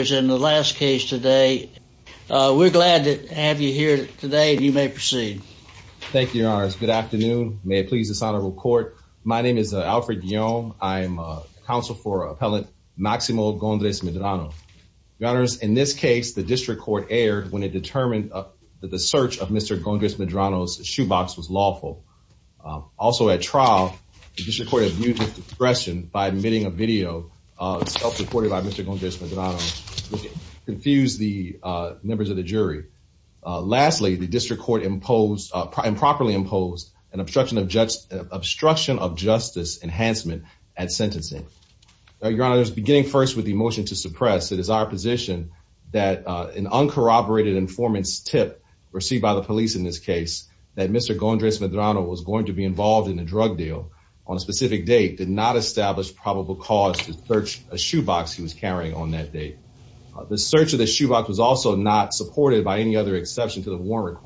is in the last case today. We're glad to have you here today and you may proceed. Thank you, your honors. Good afternoon. May it please this honorable court. My name is Alfred Guillaume. I'm a counsel for appellant Maximo Gondres-Medrano. Your honors, in this case, the district court erred when it determined that the search of Mr. Gondres-Medrano's shoebox was lawful. Also at trial, the district court has used this expression by emitting a video self-reported by Mr. Gondres-Medrano, which confused the members of the jury. Lastly, the district court improperly imposed an obstruction of justice enhancement at sentencing. Your honors, beginning first with the motion to suppress, it is our position that an uncorroborated informant's tip received by the police in this case that Mr. Gondres-Medrano was going to be involved in a drug deal on a specific date did not establish probable cause to search a shoebox he was carrying on that date. The search of the shoebox was also not supported by any other exception to the warrant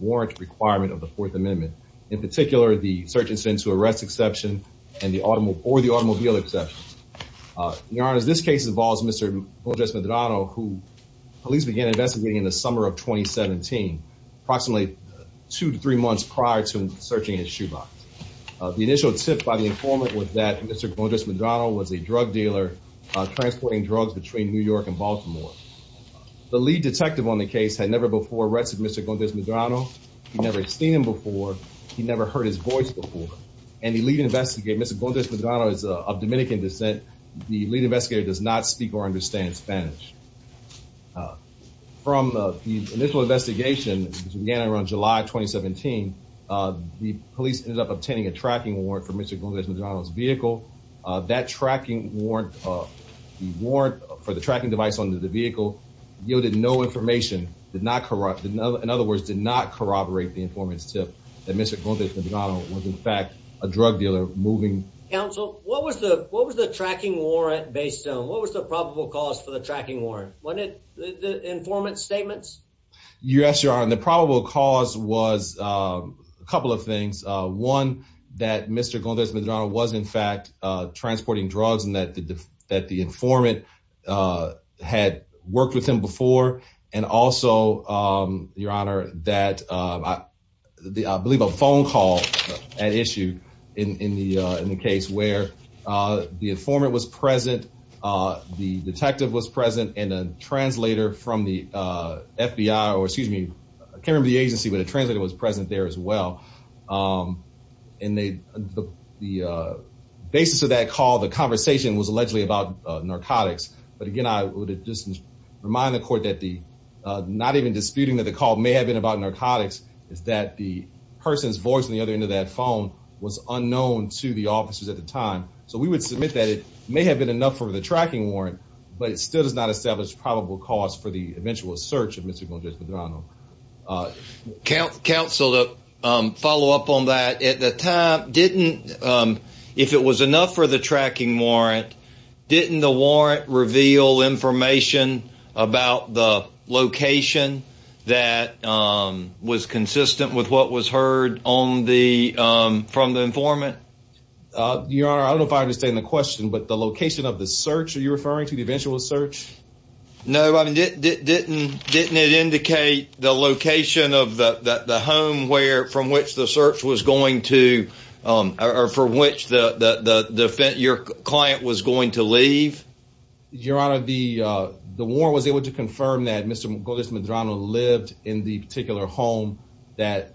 requirement of the Fourth Amendment. In particular, the search is sent to arrest exception or the automobile exception. Your honors, this case involves Mr. Gondres-Medrano who police began investigating in the summer of 2017, approximately two to three months prior to searching his shoebox. The initial tip by the informant was that Mr. Gondres-Medrano was a drug dealer transporting drugs between New York and Baltimore. The lead detective on the case had never before arrested Mr. Gondres-Medrano. He never had seen him before. He never heard his voice before. And the lead investigator, Mr. Gondres-Medrano is of Dominican descent. The lead investigator does not speak or understand Spanish. From the initial investigation, which began around July 2017, the police ended up obtaining a tracking warrant for Mr. Gondres-Medrano's vehicle. That tracking warrant for the tracking device under the vehicle yielded no information, did not corrupt, in other words, did not corroborate the informant's tip that Mr. Gondres-Medrano was in fact a drug dealer moving. Counsel, what was the tracking warrant based on? What was the probable cause for the tracking warrant? Wasn't it the informant's statements? Yes, your honor. The probable cause was a couple of things. One, that Mr. Gondres-Medrano was in transporting drugs and that the informant had worked with him before. And also, your honor, that I believe a phone call had issued in the case where the informant was present, the detective was present, and a translator from the FBI, or excuse me, I can't remember the agency, but a translator was present there as well. And the basis of that call, the conversation, was allegedly about narcotics. But again, I would just remind the court that not even disputing that the call may have been about narcotics is that the person's voice on the other end of that phone was unknown to the officers at the time. So we would submit that it may have been enough for the tracking warrant, but it still does not establish probable cause for the eventual search of Mr. Gondres-Medrano. Counsel, to follow up on that, at the time, didn't, if it was enough for the tracking warrant, didn't the warrant reveal information about the location that was consistent with what was heard from the informant? Your honor, I don't know if I understand the question, but the location of the search, you're referring to the eventual search? No, I mean, didn't it indicate the location of the home from which the search was going to, or from which your client was going to leave? Your honor, the warrant was able to confirm that Mr. Gondres-Medrano lived in the particular home that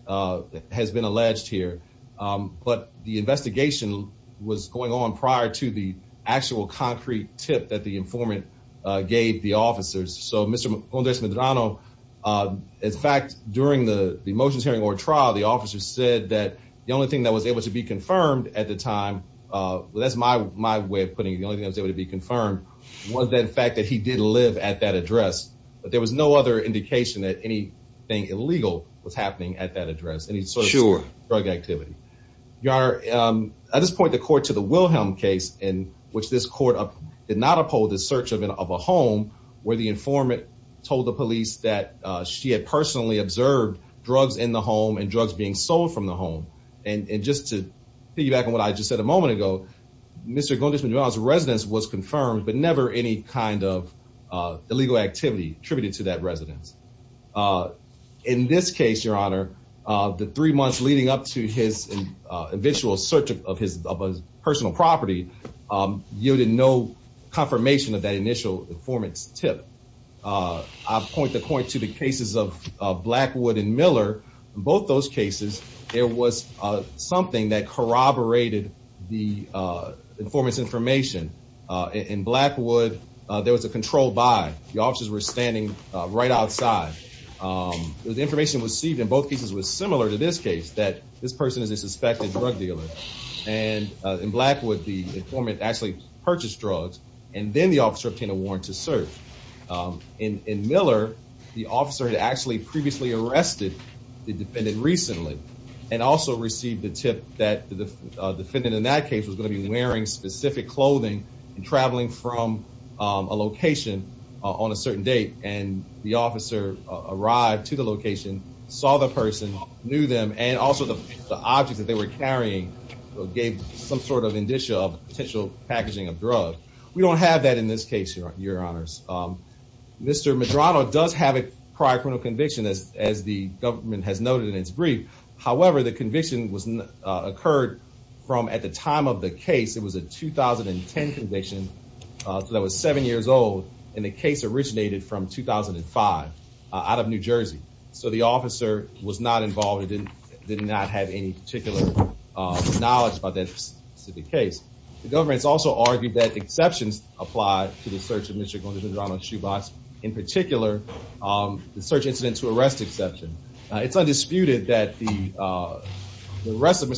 has been alleged here. But the investigation was going on prior to the actual concrete tip that the informant gave the officers. So Mr. Gondres-Medrano, in fact, during the motions hearing or trial, the officer said that the only thing that was able to be confirmed at the time, that's my way of putting it, the only thing that was able to be confirmed was that fact that he did live at that address. But there was no other indication that anything illegal was happening at that address, any sort of drug activity. Your honor, at this point, the court to the Wilhelm case in which this court did not uphold the search of a home where the informant told the police that she had personally observed drugs in the home and drugs being sold from the home. And just to piggyback on what I just said a moment ago, Mr. Gondres-Medrano's residence was confirmed, but never any kind of illegal activity attributed to that residence. In this case, your honor, the three months leading up to his eventual search of his personal property yielded no confirmation of that initial informant's tip. I point the point to the cases of Blackwood and Miller. In both those cases, there was something that corroborated the informant's information. In Blackwood, there was a control by the officers were standing right outside. The information received in both cases was similar to this case, that this person is a suspected drug dealer. And in Blackwood, the informant actually purchased drugs and then the officer obtained a warrant to search. In Miller, the officer had actually previously arrested the defendant recently and also received the tip that the defendant in that the officer arrived to the location, saw the person, knew them, and also the objects that they were carrying gave some sort of indicia of potential packaging of drugs. We don't have that in this case, your honors. Mr. Medrano does have a prior criminal conviction, as the government has noted in its brief. However, the conviction occurred from at the time of the case. It was a 2010 conviction, so that was seven years old. And the case originated from 2005 out of New Jersey. So the officer was not involved and did not have any particular knowledge about that specific case. The government's also argued that exceptions apply to the search of Mr. Gondez Medrano's shoebox. In particular, the search incident to arrest exception. It's undisputed that the arrest of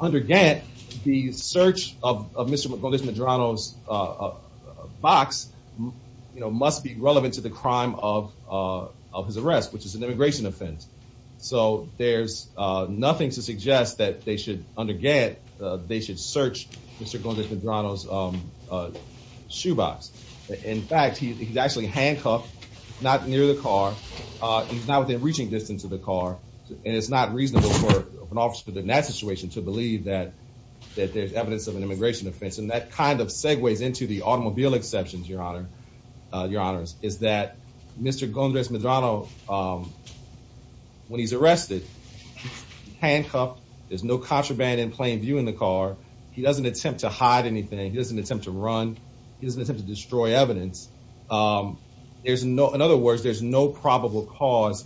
Under Gantt, the search of Mr. Gondez Medrano's box, you know, must be relevant to the crime of his arrest, which is an immigration offense. So there's nothing to suggest that they should, under Gantt, they should search Mr. Gondez Medrano's shoebox. In fact, he's actually handcuffed, not near the car. He's not within reaching distance of the car and it's not reasonable for an officer in that situation to believe that that there's evidence of an immigration offense. And that kind of segues into the automobile exceptions, your honor, your honors, is that Mr. Gondez Medrano, when he's arrested, handcuffed. There's no contraband in plain view in the car. He doesn't attempt to hide anything. He doesn't attempt to run. He doesn't attempt to destroy evidence. There's no, in other words, there's no probable cause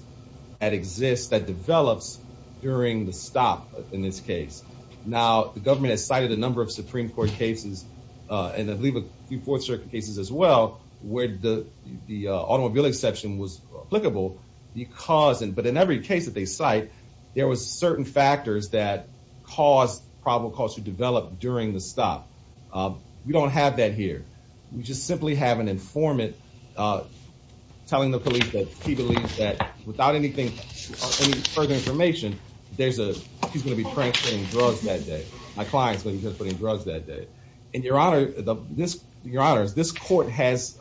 that exists that develops during the stop in this case. Now, the government has cited a number of Supreme Court cases, and I believe a few Fourth Circuit cases as well, where the automobile exception was applicable because, but in every case that they cite, there was certain factors that caused probable cause to develop during the stop. We don't have that here. We just simply have an informant telling the police that he believes that without anything, any further information, there's a, he's going to be pranking drugs that day. My client's going to be putting drugs that day. And your honor, your honors, this court has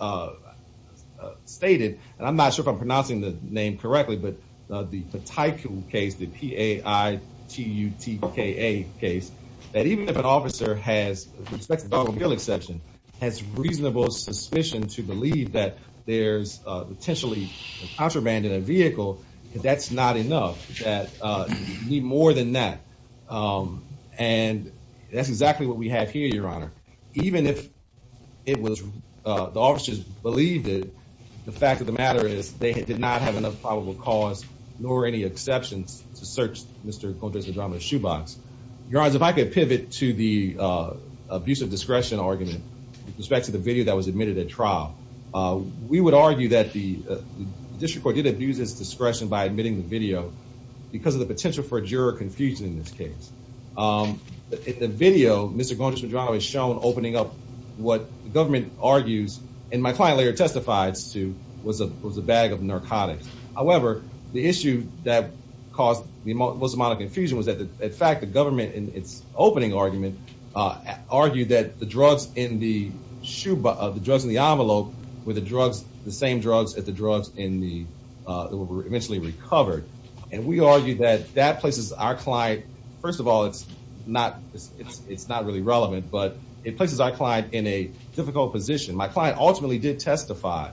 stated, and I'm not sure if I'm pronouncing the name correctly, but the Pataikou case, the P-A-I-T-U-T-K-A case, that even if an officer has, with respect to the automobile exception, has reasonable suspicion to believe that there's potentially contraband in a vehicle, that's not enough, that you need more than that. And that's exactly what we have here, your honor. Even if it was, the officers believed it, the fact of the matter is they did not have enough probable cause nor any exceptions to search Mr. Madrono's shoebox. Your honors, if I could pivot to the abuse of discretion argument with respect to the video that was admitted at trial, we would argue that the district court did abuse its discretion by admitting the video because of the potential for a juror confusion in this case. In the video, Mr. Madrono is shown opening up what the government argues, and my client later was that, in fact, the government, in its opening argument, argued that the drugs in the shoebox, the drugs in the envelope, were the same drugs as the drugs that were eventually recovered. And we argue that that places our client, first of all, it's not really relevant, but it places our client in a difficult position. My client ultimately did testify.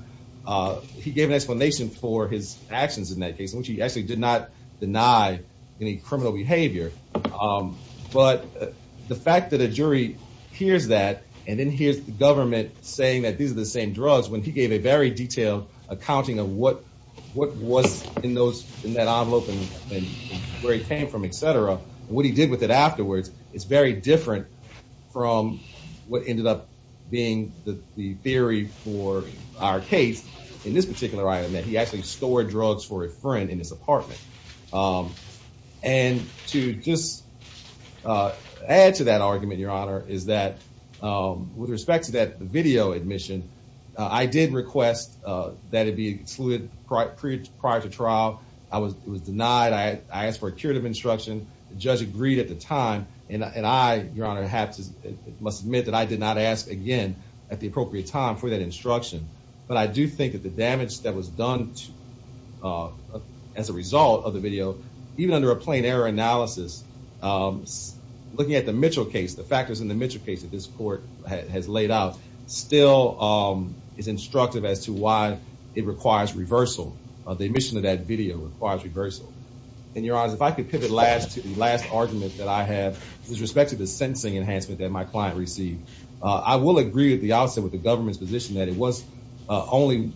He gave an explanation for his actions in that case in which he actually did not any criminal behavior. But the fact that a jury hears that and then hears the government saying that these are the same drugs when he gave a very detailed accounting of what was in those, in that envelope and where he came from, et cetera, what he did with it afterwards, it's very different from what ended up being the theory for our case in this particular item that he actually stored drugs for a friend in his apartment. And to just add to that argument, Your Honor, is that with respect to that video admission, I did request that it be excluded prior to trial. I was denied. I asked for a curative instruction. The judge agreed at the time. And I, Your Honor, must admit that I did not ask again at the appropriate time for that as a result of the video. Even under a plain error analysis, looking at the Mitchell case, the factors in the Mitchell case that this court has laid out still is instructive as to why it requires reversal. The admission of that video requires reversal. And, Your Honor, if I could pivot last to the last argument that I have with respect to the sentencing enhancement that my client received, I will agree at the outset with the government's position that it was only,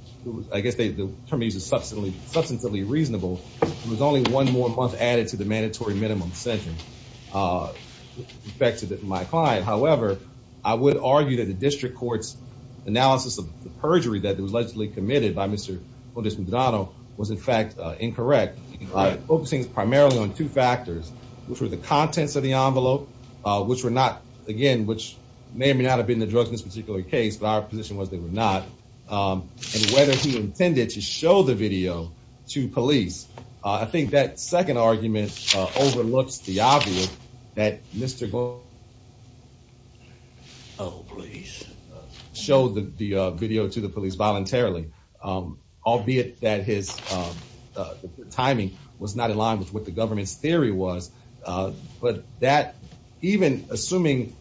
I guess the term used is substantively reasonable, it was only one more month added to the mandatory minimum sentence. In fact, to my client, however, I would argue that the district court's analysis of the perjury that was allegedly committed by Mr. Maldonado was in fact incorrect, focusing primarily on two factors, which were the contents of the envelope, which were not, again, which may or may not have been the drugs in this particular case, but our position was not, and whether he intended to show the video to police. I think that second argument overlooks the obvious that Mr. Maldonado showed the video to the police voluntarily, albeit that his timing was not in line with what the government's theory was. But that, even assuming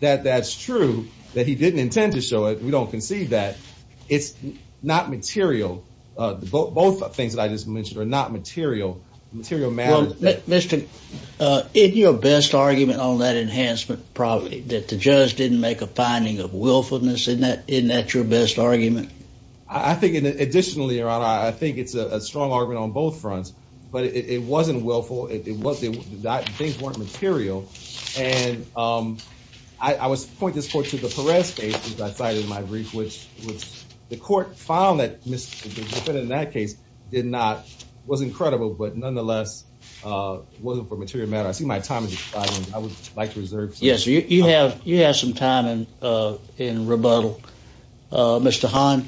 that that's true, that he didn't intend to show it, we don't concede that, it's not material. Both things that I just mentioned are not material. Material matters. Well, isn't your best argument on that enhancement probably that the judge didn't make a finding of willfulness? Isn't that your best argument? I think additionally, your honor, I think it's a strong argument on both fronts, but it wasn't willful, things weren't material, and I would point this court to the Perez case, as I cited in my brief, which the court found that the defendant in that case did not, was incredible, but nonetheless, wasn't for material matter. I see my time is expiring, I would like to reserve some time. Yes, you have some time in rebuttal. Mr. Hahn?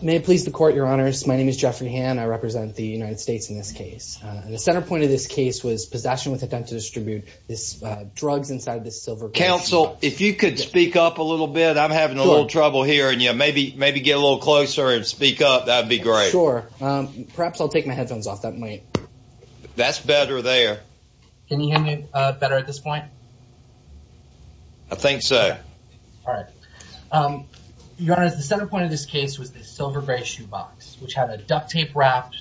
May it please the court, your honors, my name is Jeffrey Hahn, I represent the United States in this case. The center point of this case was possession with intent to distribute this drugs inside this silver case. Counsel, if you could speak up a little bit, I'm having a little trouble hearing you, maybe get a little closer and speak up, that'd be great. Sure, perhaps I'll take my headphones off, that might. That's better there. Can you hear me better at this point? I think so. All right. Your honors, the center point of this case was the silver gray shoe box, which had a duct tape wrapped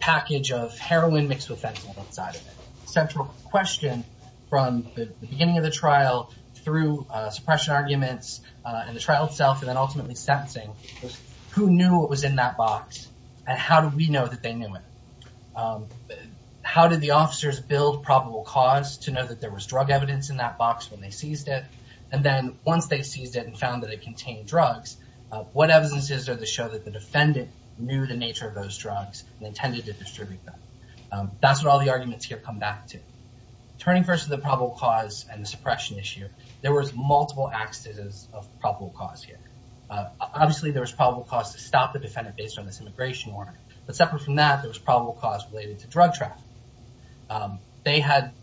package of heroin mixed with fentanyl inside of it. Central question from the beginning of the trial, through suppression arguments, and the trial itself, and then ultimately sentencing, was who knew what was in that box, and how did we know that they knew it? How did the officers build probable cause to know that there was drug evidence in that box when they seized it? And then once they seized it and found that it contained drugs, what evidence is there to show that the defendant knew the nature of those drugs and intended to distribute them? That's what all the arguments here come back to. Turning first to the probable cause and the suppression issue, there was multiple axes of probable cause here. Obviously, there was probable cause to stop the defendant based on this immigration order, but separate from that, there was probable cause related to drug trafficking.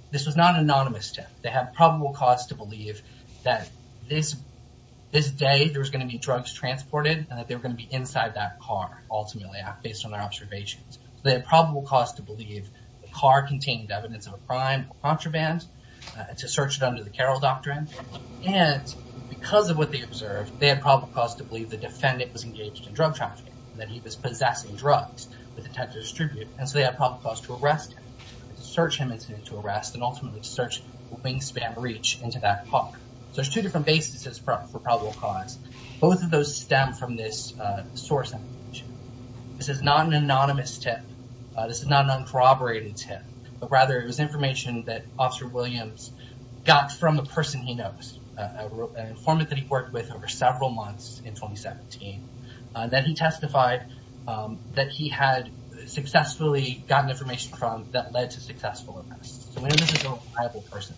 This was not an anonymous tip. They had probable cause to believe that this day there was going to be drugs transported and that they were going to be inside that car, ultimately, based on their observations. They had probable cause to believe the car contained evidence of a crime or contraband to search it under the Carroll Doctrine. And because of what they observed, they had probable cause to believe the defendant was engaged in drug trafficking, that he was possessing drugs with the intent to distribute. And so they had probable cause to arrest him, to search him incidentally to arrest, and ultimately to search a wingspan breach into that car. So there's two different bases for probable cause. Both of those stem from this source. This is not an anonymous tip. This is not an uncorroborated tip, but rather it was information that Officer Williams got from a person he knows, an informant that he worked with over several months in 2017, that he testified that he had successfully gotten information from that led to successful arrests. So Williams is a reliable person.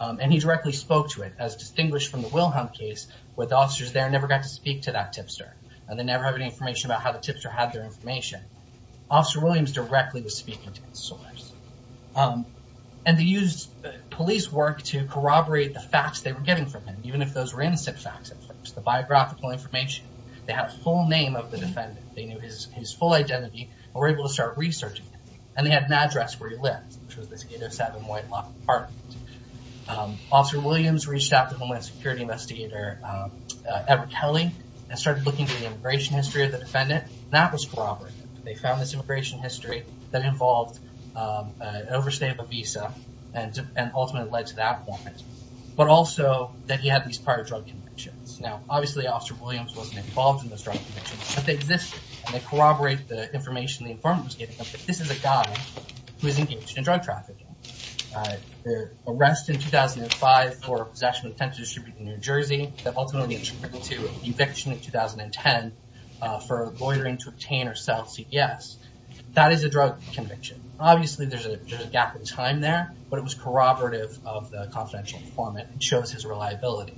And he directly spoke to it as distinguished from the Wilhelm case, where the officers there never got to speak to that tipster, and they never have any information about how the tipster had their information. Officer Williams directly was speaking to this source. And they used police work to corroborate the facts they were getting from him, even if those were innocent facts. The biographical information, they had a full name of the defendant. They knew his full identity, and were able to start researching. And they had an address where he lived, which was this 807 White Lock apartment. Officer Williams reached out to Homeland Security investigator Edward Kelly, and started looking at the immigration history of the defendant. That was corroborated. They found this immigration history that involved an overstable visa, and ultimately led to that point. But also, that he had these prior drug convictions. Now, obviously, Officer Williams wasn't involved in those drug convictions, but they existed. And they corroborate the information the informant was giving them. This is a guy who is engaged in drug trafficking. Arrested in 2005 for possession and attempted distribution in New Jersey, ultimately attributed to eviction in 2010 for loitering to obtain or sell CPS. That is a drug conviction. Obviously, there's a gap in time there, but it was corroborative of the confidential informant, and shows his reliability.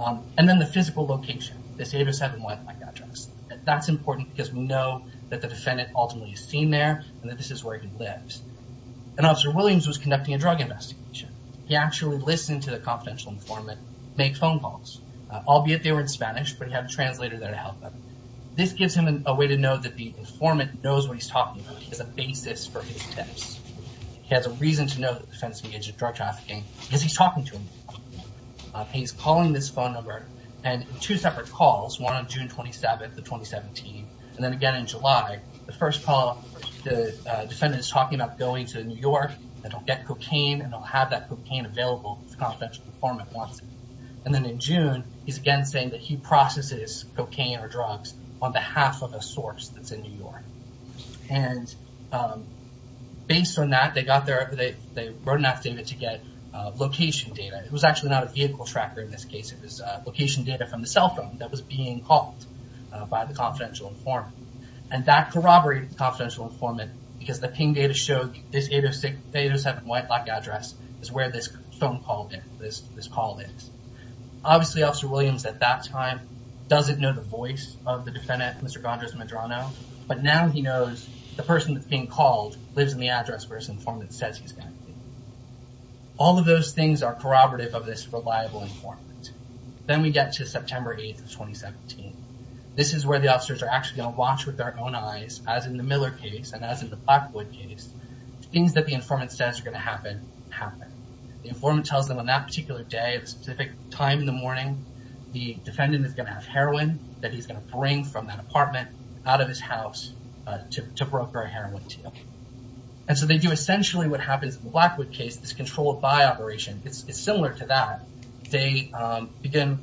And then the physical location, this 807 White Lock address. That's important because we know that the defendant ultimately is seen there, and that this is where he lives. And Officer Williams was conducting a drug investigation. He actually listened to the confidential informant make phone calls, albeit they were in Spanish, but he had a translator there to help him. This gives him a way to know that the informant knows what he's talking about, as a basis for his attempts. He has a reason to know that the defendant's engaged in drug trafficking, because he's talking to him. He's calling this phone number, and two separate calls, one on June 27th of 2017, and then again in July. The first call, the defendant is talking about going to New York, and he'll get cocaine, and he'll have that cocaine available if the confidential informant wants it. And then in June, he's again saying that he processes cocaine or drugs on behalf of a source that's in New York. And based on that, they wrote an affidavit to get location data. It was actually not a vehicle tracker in this case, it was location data from the cell phone that was being called by the confidential informant. And that corroborated the confidential informant, because the ping data showed this 807 White Lock address is where this phone call is. Obviously, Officer Williams at that time doesn't know the voice of the defendant, Mr. Gondrez-Medrano, but now he knows the person that's being called lives in the address where this informant says he's going to be. All of those things are corroborative of this reliable informant. Then we get to September 8th of 2017. This is where the officers are actually going to watch with their own eyes, as in the Miller case and as in the Blackwood case, things that the informant says are going to happen, happen. The informant tells them on that particular day at a specific time in the morning, the defendant is going to have heroin that he's going to bring from that apartment out of his house to broker a heroin deal. And so they do essentially what happens in the Blackwood case, this controlled by operation. It's similar to that. They begin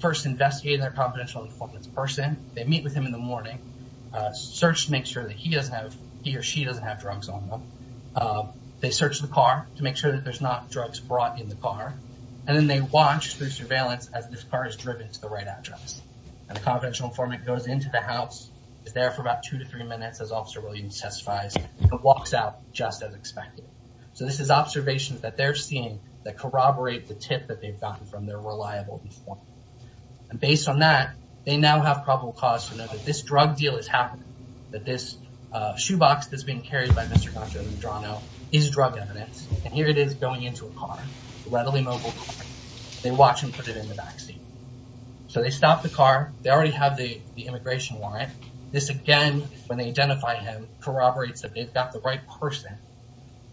first investigating their confidential informant's person. They meet with him in the morning. Search to make sure that he doesn't have, he or she doesn't have drugs on them. They search the car to make sure that there's not drugs brought in the car. And then they watch through surveillance as this car is driven to the right address. And the confidential informant goes into the house, is there for about two to three minutes, as Officer Williams testifies, and walks out just as expected. So this is observations that they're seeing that corroborate the tip that they've gotten from their reliable informant. And based on that, they now have probable cause to know that this drug deal is happening, that this shoebox that's being carried by Mr. Gaccio Medrano is drug evidence. And here it is going into a car, a readily mobile car. They watch him put it in the backseat. So they stop the car. They already have the immigration warrant. This again, when they identify him, corroborates that they've got the right person.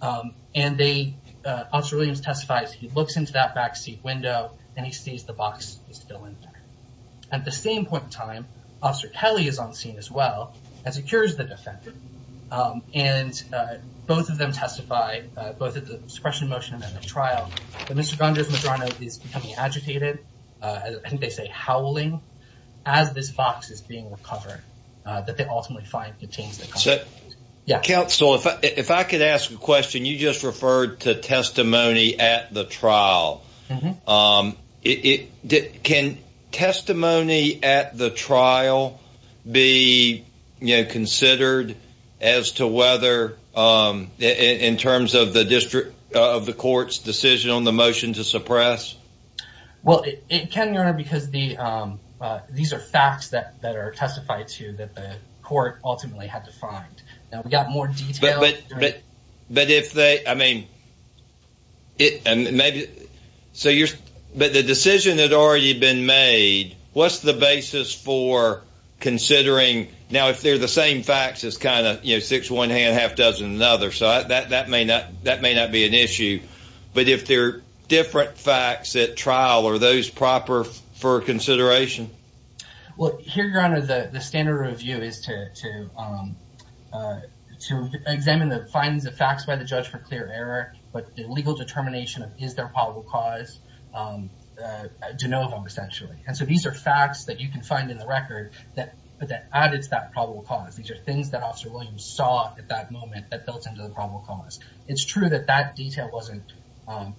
And they, Officer Williams testifies, he looks into that backseat window, and he sees the box is still in there. At the same point in time, Officer Kelly is on scene as well, and secures the defendant. And both of them testify, both at the suppression motion and at the trial, that Mr. Gaccio Medrano is becoming agitated, I think they say howling, as this box is being recovered, that they ultimately find contains- So, counsel, if I could ask a question, you just referred to testimony at the trial. It, can testimony at the trial be, you know, considered as to whether, in terms of the district, of the court's decision on the motion to suppress? Well, it can, Your Honor, because the, these are facts that are testified to that the court ultimately had to find. Now, we got more detail- But if they, I mean, it, and maybe, so you're, but the decision had already been made, what's the basis for considering, now, if they're the same facts as kind of, you know, six one hand, half dozen another, so that may not, that may not be an issue. But if they're different facts at trial, are those proper for consideration? Well, here, Your Honor, the standard review is to, to examine the findings, the facts by the judge for clear error, but the legal determination of is there a probable cause, de novo, essentially. And so, these are facts that you can find in the record that, but that added to that probable cause. These are things that Officer Williams saw at that moment that built into the probable cause. It's true that that detail wasn't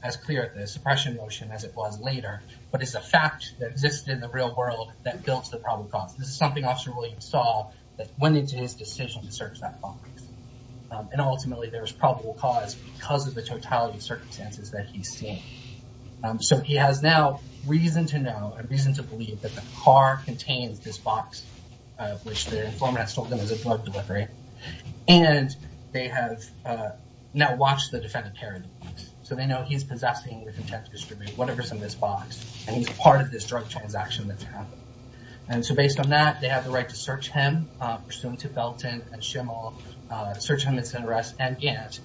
as clear at the suppression motion as it was later, but it's a fact that existed in the real world that built the probable cause. This is something Officer Williams saw that went into his decision to search that box. And ultimately, there was probable cause because of the totality of circumstances that he's seen. So, he has now reason to know and reason to believe that the car contains this box, which the informant has told them is a drug delivery, and they have now watched the defendant carry the box. So, they know he's possessing, whatever's in this box, and he's a part of this drug transaction that's happening. And so, based on that, they have the right to search him, pursuant to Felton and Schimel, search him and send an arrest, and Gantt,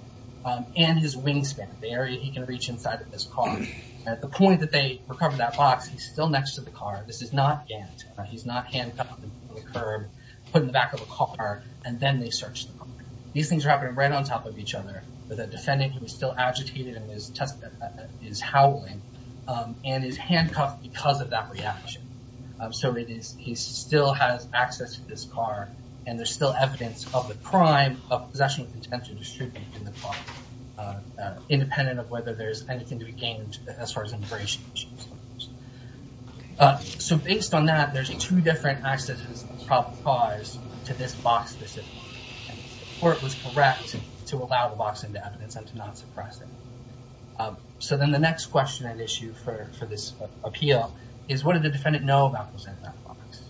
and his wingspan, the area he can reach inside of this car. At the point that they recover that box, he's still next to the car. This is not Gantt. He's not handcuffed to the curb, put in the back of a car, and then they search the car. These things are happening right on top of each other, but the defendant, he was still agitated in his howling and is handcuffed because of that reaction. So, he still has access to this car, and there's still evidence of the crime of possession with intent to distribute in the car, independent of whether there's anything to be gained as far as immigration issues. So, based on that, there's two different accesses of probable cause to this box, specifically, and the court was correct to allow the box into evidence and to not suppress it. So, then the next question and issue for this appeal is, what did the defendant know about what was in that box?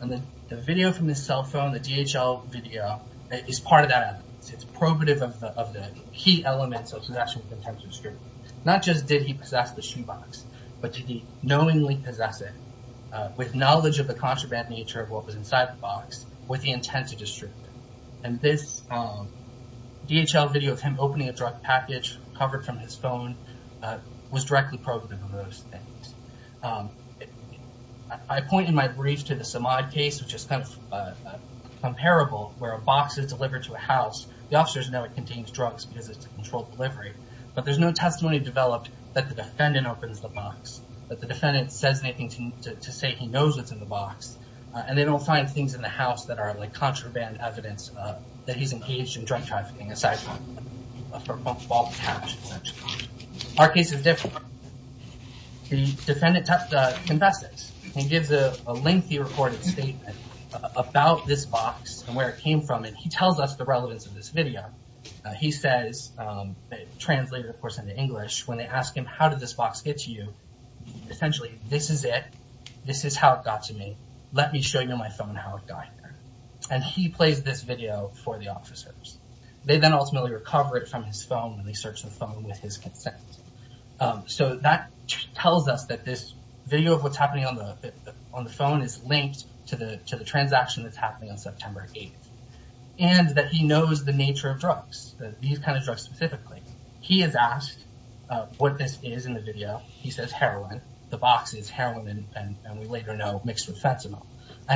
And the video from his cell phone, the DHL video, is part of that evidence. It's probative of the key elements of possession with intent to distribute. Not just did he possess the shoebox, but did he knowingly possess it with knowledge of the contraband nature of what was inside the box with the intent to distribute? And this DHL video of him opening a drug package covered from his phone was directly probative of those things. I point in my brief to the Samad case, which is comparable, where a box is delivered to a house, the officers know it contains drugs because it's a controlled delivery, but there's no testimony developed that the defendant opens the box, that the defendant says anything to say he knows what's in the box, and they don't find things in the house that are like contraband evidence that he's engaged in drug trafficking, aside from a football patch. Our case is different. The defendant confesses and gives a lengthy recorded statement about this box and where it came from, and he tells us the relevance of this video. He says, translated, of course, into English, when they ask him, how did this box get to you? Essentially, this is it. This is how it got to me. Let me show you on my phone how it got here. He plays this video for the officers. They then ultimately recover it from his phone when they search the phone with his consent. That tells us that this video of what's happening on the phone is linked to the transaction that's happening on September 8th, and that he knows the nature of drugs, these kind of drugs specifically. He is asked what this is in the video. He says heroin. The box is heroin, and we later know mixed with fentanyl.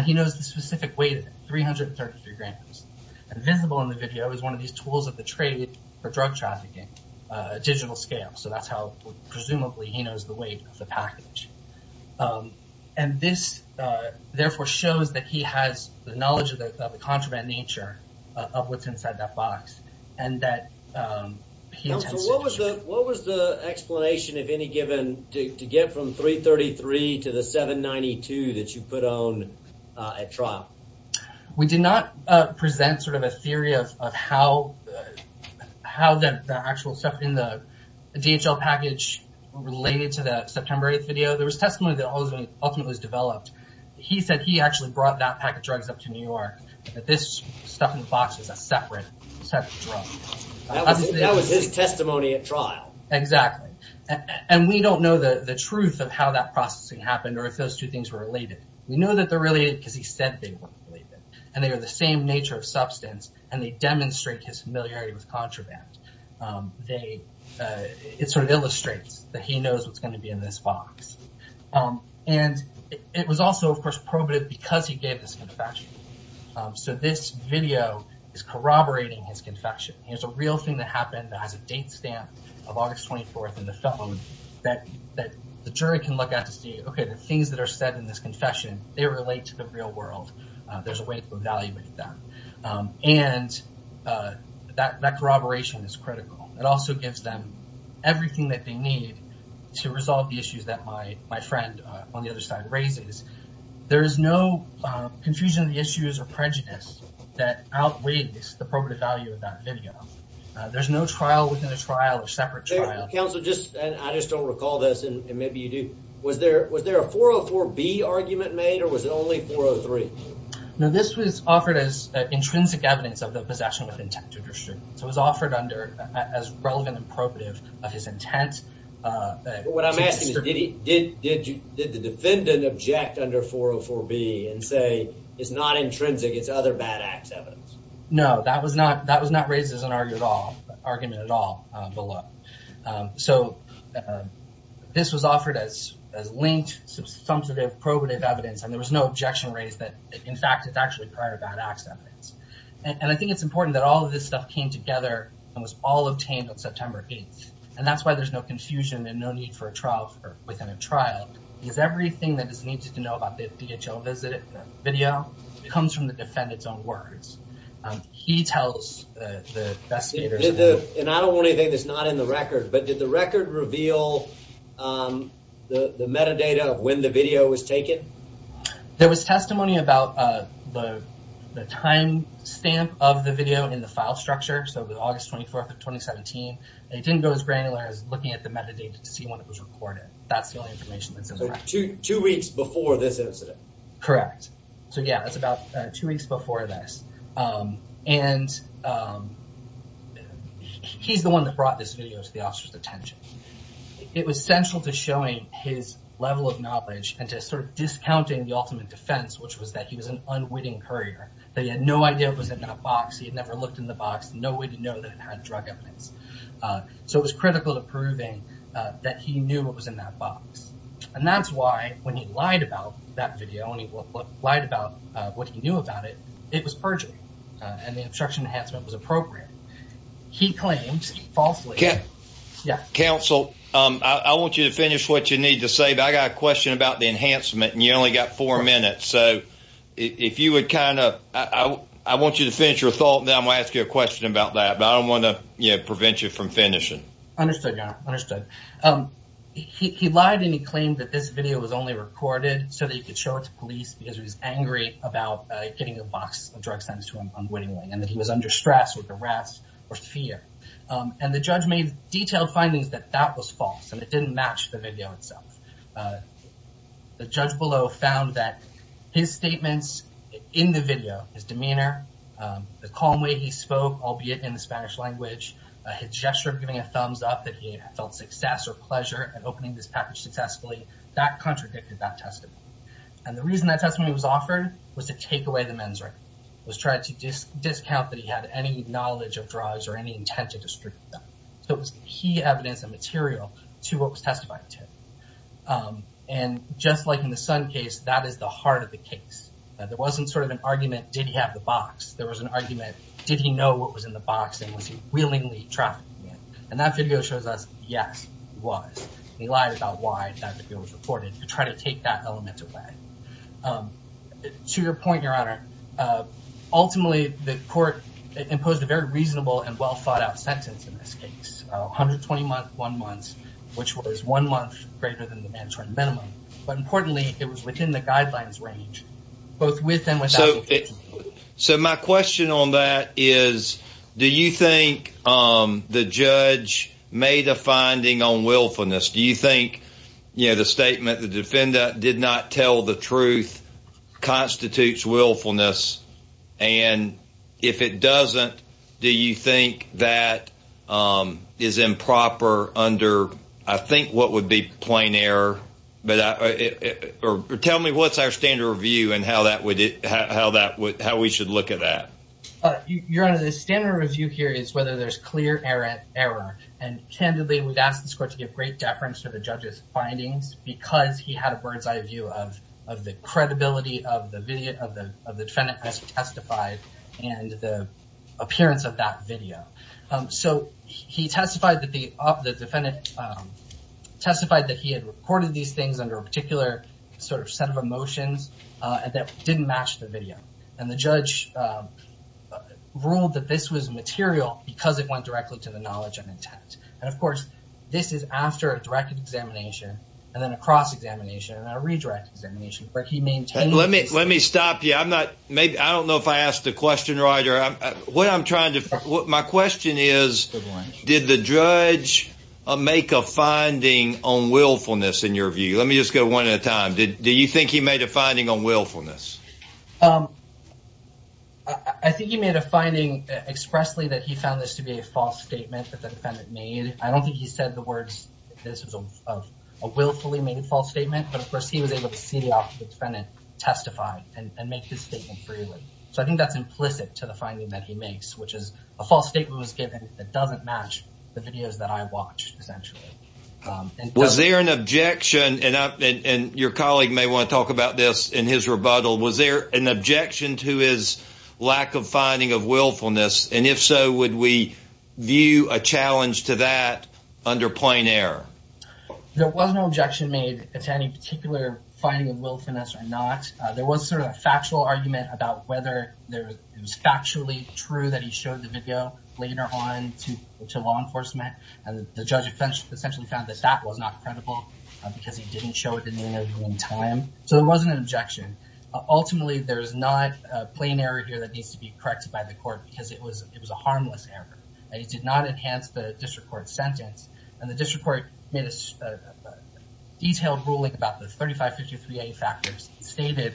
He knows the specific weight of it, 333 grams. Visible in the video is one of these tools of the trade for drug trafficking, digital scale. That's how, presumably, he knows the weight of the package. This, therefore, shows that he has the knowledge of the contraband nature of what's inside that box. What was the explanation, if any, given to get from 333 to the 792 that you put on at trial? We did not present a theory of how the actual stuff in the DHL package related to the September 8th video. There was testimony that ultimately was developed. He said he actually brought that package of drugs up to New York, that this stuff in the box is a separate drug. That was his testimony at trial. Exactly. We don't know the truth of how that processing happened or if those two things were related. We know that they're related because he said they were related. They are the same nature of substance, and they demonstrate his familiarity with contraband. It illustrates that he knows what's going to be in this box. And it was also, of course, probative because he gave this confession. So this video is corroborating his confession. Here's a real thing that happened that has a date stamp of August 24th in the phone that the jury can look at to see, okay, the things that are said in this confession, they relate to the real world. There's a way to evaluate that. And that corroboration is critical. It also gives them everything that they need to resolve the issues that my friend on the other side raises. There is no confusion of the issues or prejudice that outweighs the probative value of that video. There's no trial within a trial or separate trial. Counsel, I just don't recall this, and maybe you do. Was there a 404B argument made, or was it only 403? No, this was offered as intrinsic evidence of the possession with intent to distribute. So it was offered as relevant and probative of his intent. What I'm asking is, did the defendant object under 404B and say it's not intrinsic, it's other bad acts evidence? No, that was not raised as an argument at all below. So this was offered as linked, substantive, probative evidence, and there was no objection raised that, in fact, it's actually prior bad acts evidence. And I think it's important that all of this stuff came together and was all obtained on September 8th. And that's why there's no confusion and no need for a trial within a trial, because everything that is needed to know about the DHL visit video comes from the defendant's own words. He tells the investigators. And I don't want anything that's not in the record, but did the record reveal the metadata of when the video was taken? There was testimony about the timestamp of the video in the file structure. So it was August 24th of 2017. It didn't go as granular as looking at the metadata to see when it was recorded. That's the only information that's in there. Two weeks before this incident? Correct. So yeah, it's about two weeks before this. And he's the one that brought this video to the officer's attention. It was central to showing his level of knowledge and to sort of discounting the ultimate defense, which was that he was an unwitting courier. That he had no idea what was in that box. He had never looked in the box. No way to know that it had drug evidence. So it was critical to proving that he knew what was in that box. And that's why when he lied about that video and he lied about what he knew about it, it was perjury. And the obstruction enhancement was appropriate. He claimed falsely. Counsel, I want you to finish what you need to say, but I got a question about the enhancement and you only got four minutes. So if you would kind of, I want you to finish your thought and then I'm going to ask you a question about that. But I don't want to prevent you from finishing. Understood, your honor. Understood. He lied and he claimed that this video was only recorded so that he could show it to police because he was angry about getting a box of drugs sent to him unwittingly. And that he was under stress with arrest or fear. And the judge made detailed findings that that was false and it didn't match the video itself. The judge below found that his statements in the video, his demeanor, the calm way he spoke, albeit in the Spanish language, his gesture of giving a thumbs up that he felt success or pleasure in opening this package successfully, that contradicted that testimony. And the reason that testimony was offered was to take away the men's right. Was trying to discount that he had any knowledge of drugs or any intent to distribute them. It was key evidence and material to what was testified to. And just like in the son case, that is the heart of the case. That there wasn't sort of an argument, did he have the box? There was an argument, did he know what was in the box and was he willingly trafficking it? And that video shows us, yes, he was. He lied about why that video was recorded to try to take that element away. To your point, your honor. Ultimately, the court imposed a very reasonable and well 120 month, one month, which was one month greater than the mandatory minimum. But importantly, it was within the guidelines range, both with and without. So my question on that is, do you think the judge made a finding on willfulness? Do you think, you know, the statement the defender did not tell the truth constitutes willfulness? And if it doesn't, do you think that is improper under, I think, what would be plain error? But tell me what's our standard review and how that would, how that would, how we should look at that. Your honor, the standard review here is whether there's clear error. And candidly, we've asked this court to give great deference to the judge's findings because he had a bird's eye view of the credibility of the defendant as testified and the appearance of that video. So he testified that the defendant, testified that he had recorded these things under a particular sort of set of emotions that didn't match the video. And the judge ruled that this was material because it went directly to the knowledge and intent. And of course, this is after a direct examination and then a cross-examination and a redirect examination, but he maintained. Let me stop you. I'm not, maybe, I don't know if I asked a question, Roger. What I'm trying to, my question is, did the judge make a finding on willfulness in your view? Let me just go one at a time. Did you think he made a finding on willfulness? I think he made a finding expressly that he found this to be a false statement that the defendant made. I don't think he said the words that this was a willfully made false statement, but of course he was able to see the defendant testify and make this statement freely. So I think that's implicit to the finding that he makes, which is a false statement was given that doesn't match the videos that I watched, essentially. Was there an objection, and your colleague may want to talk about this in his rebuttal, was there an objection to his lack of finding of willfulness, and if so, would we view a challenge to that under plain error? There was no objection made to any particular finding of willfulness or not. There was sort of a factual argument about whether it was factually true that he showed the video later on to law enforcement, and the judge essentially found that that was not credible because he didn't show it in the interview in time. So there wasn't an objection. Ultimately, there's not a plain error here that needs to be corrected by the court because it was it was a harmless error, and he did not enhance the district court sentence, and the district court made a detailed ruling about the 3553A factors stated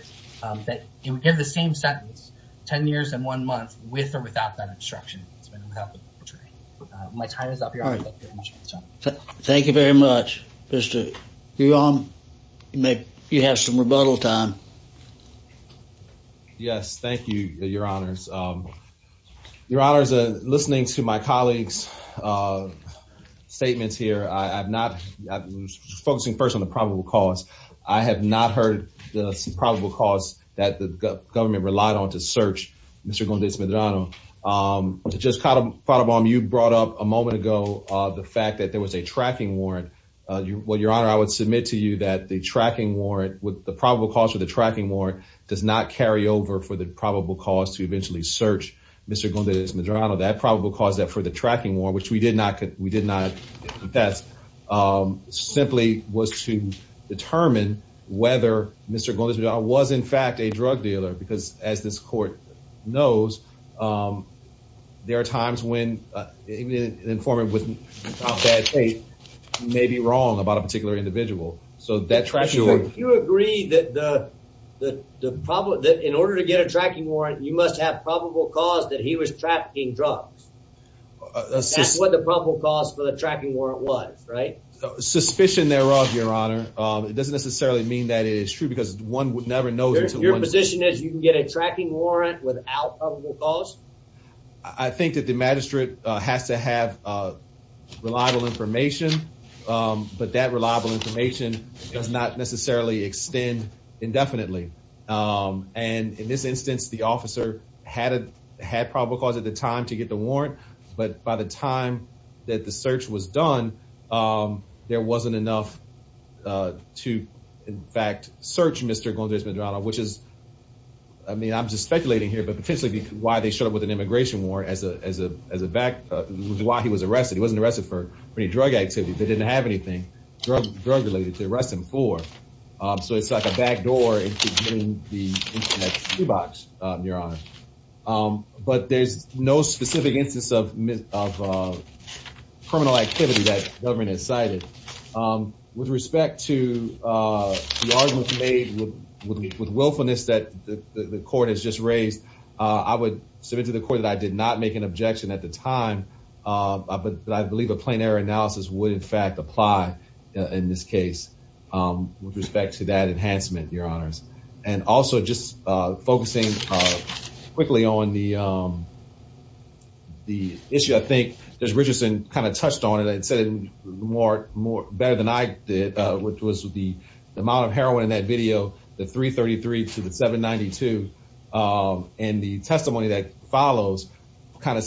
that he would give the same sentence 10 years and one month with or without that obstruction. My time is up here. Thank you very much. Mr. Guillaume, you have some rebuttal time. Yes, thank you, your honors. Your honors, listening to my colleagues' statements here, I'm focusing first on the probable cause. I have not heard the probable cause that the government relied on to search Mr. Gondez Medrano. Just caught up on, you brought up a moment ago the fact that there was a tracking warrant. Well, your honor, I would submit to you that the probable cause for the tracking warrant does not carry over for the probable cause to eventually search Mr. Gondez Medrano. That probable cause that for the tracking warrant, which we did not contest, simply was to determine whether Mr. Gondez Medrano was, in fact, a drug dealer because, as this court knows, there are times when an informant without So that's right. You agree that in order to get a tracking warrant, you must have probable cause that he was trafficking drugs. That's what the probable cause for the tracking warrant was, right? Suspicion thereof, your honor. It doesn't necessarily mean that it is true because one would never know. Your position is you can get a tracking warrant without probable cause? I think that the magistrate has to have reliable information, but that reliable information does not necessarily extend indefinitely. And in this instance, the officer had probable cause at the time to get the warrant, but by the time that the search was done, there wasn't enough to, in fact, search Mr. Gondez Medrano, which is, I mean, I'm just speculating here, why they showed up with an immigration warrant while he was arrested. He wasn't arrested for any drug activity. They didn't have anything drug-related to arrest him for. So it's like a backdoor into getting the internet toolbox, your honor. But there's no specific instance of criminal activity that the government has cited. With respect to the argument made with willfulness that the court has just raised, I would submit to the court that I did not make an objection at the time, but I believe a plain error analysis would, in fact, apply in this case with respect to that enhancement, your honors. And also just focusing quickly on the issue, I think, as Richardson kind of touched on it and said it more better than I did, which was the amount of heroin in that video, the 333 to the 792. And the testimony that follows kind of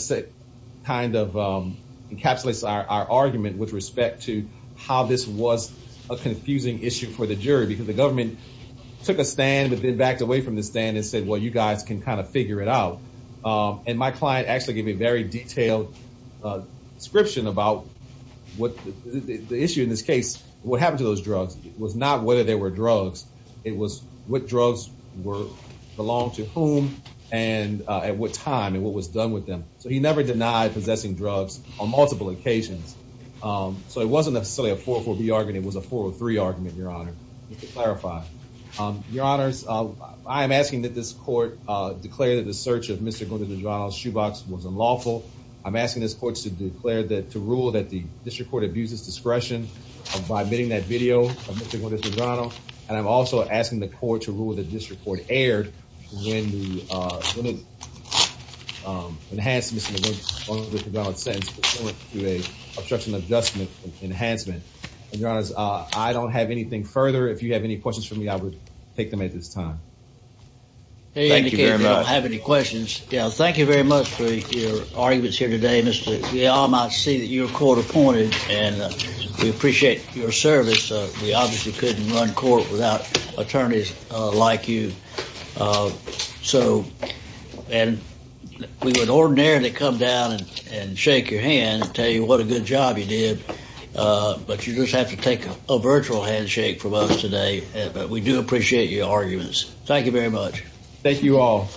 encapsulates our argument with respect to how this was a confusing issue for the jury, because the government took a stand but then backed away from the stand and said, well, you guys can kind of figure it out. And my client actually gave me a very detailed description about the issue in this case. What happened to those drugs was not whether they were drugs. It was what drugs belonged to whom and at what time and what was done with them. So he never denied possessing drugs on multiple occasions. So it wasn't necessarily a 404B argument. It was a 403 argument, your honor, just to clarify. Your honors, I am asking that this court to declare that to rule that the district court abuses discretion by bidding that video of Mr. and Mrs. Pedrano. And I'm also asking the court to rule that this report aired when it enhanced Mr. and Mrs. Pedrano's sentence to a obstruction adjustment enhancement. And your honors, I don't have anything further. If you have any questions for me, I would take them at this time. Thank you very much. Yeah, thank you very much for your arguments here today, Mr. We all might see that you're court appointed and we appreciate your service. We obviously couldn't run court without attorneys like you. So and we would ordinarily come down and shake your hand and tell you what a good job you did. But you just have to take a virtual handshake from us today. We do appreciate your arguments. Thank you very much. Thank you all.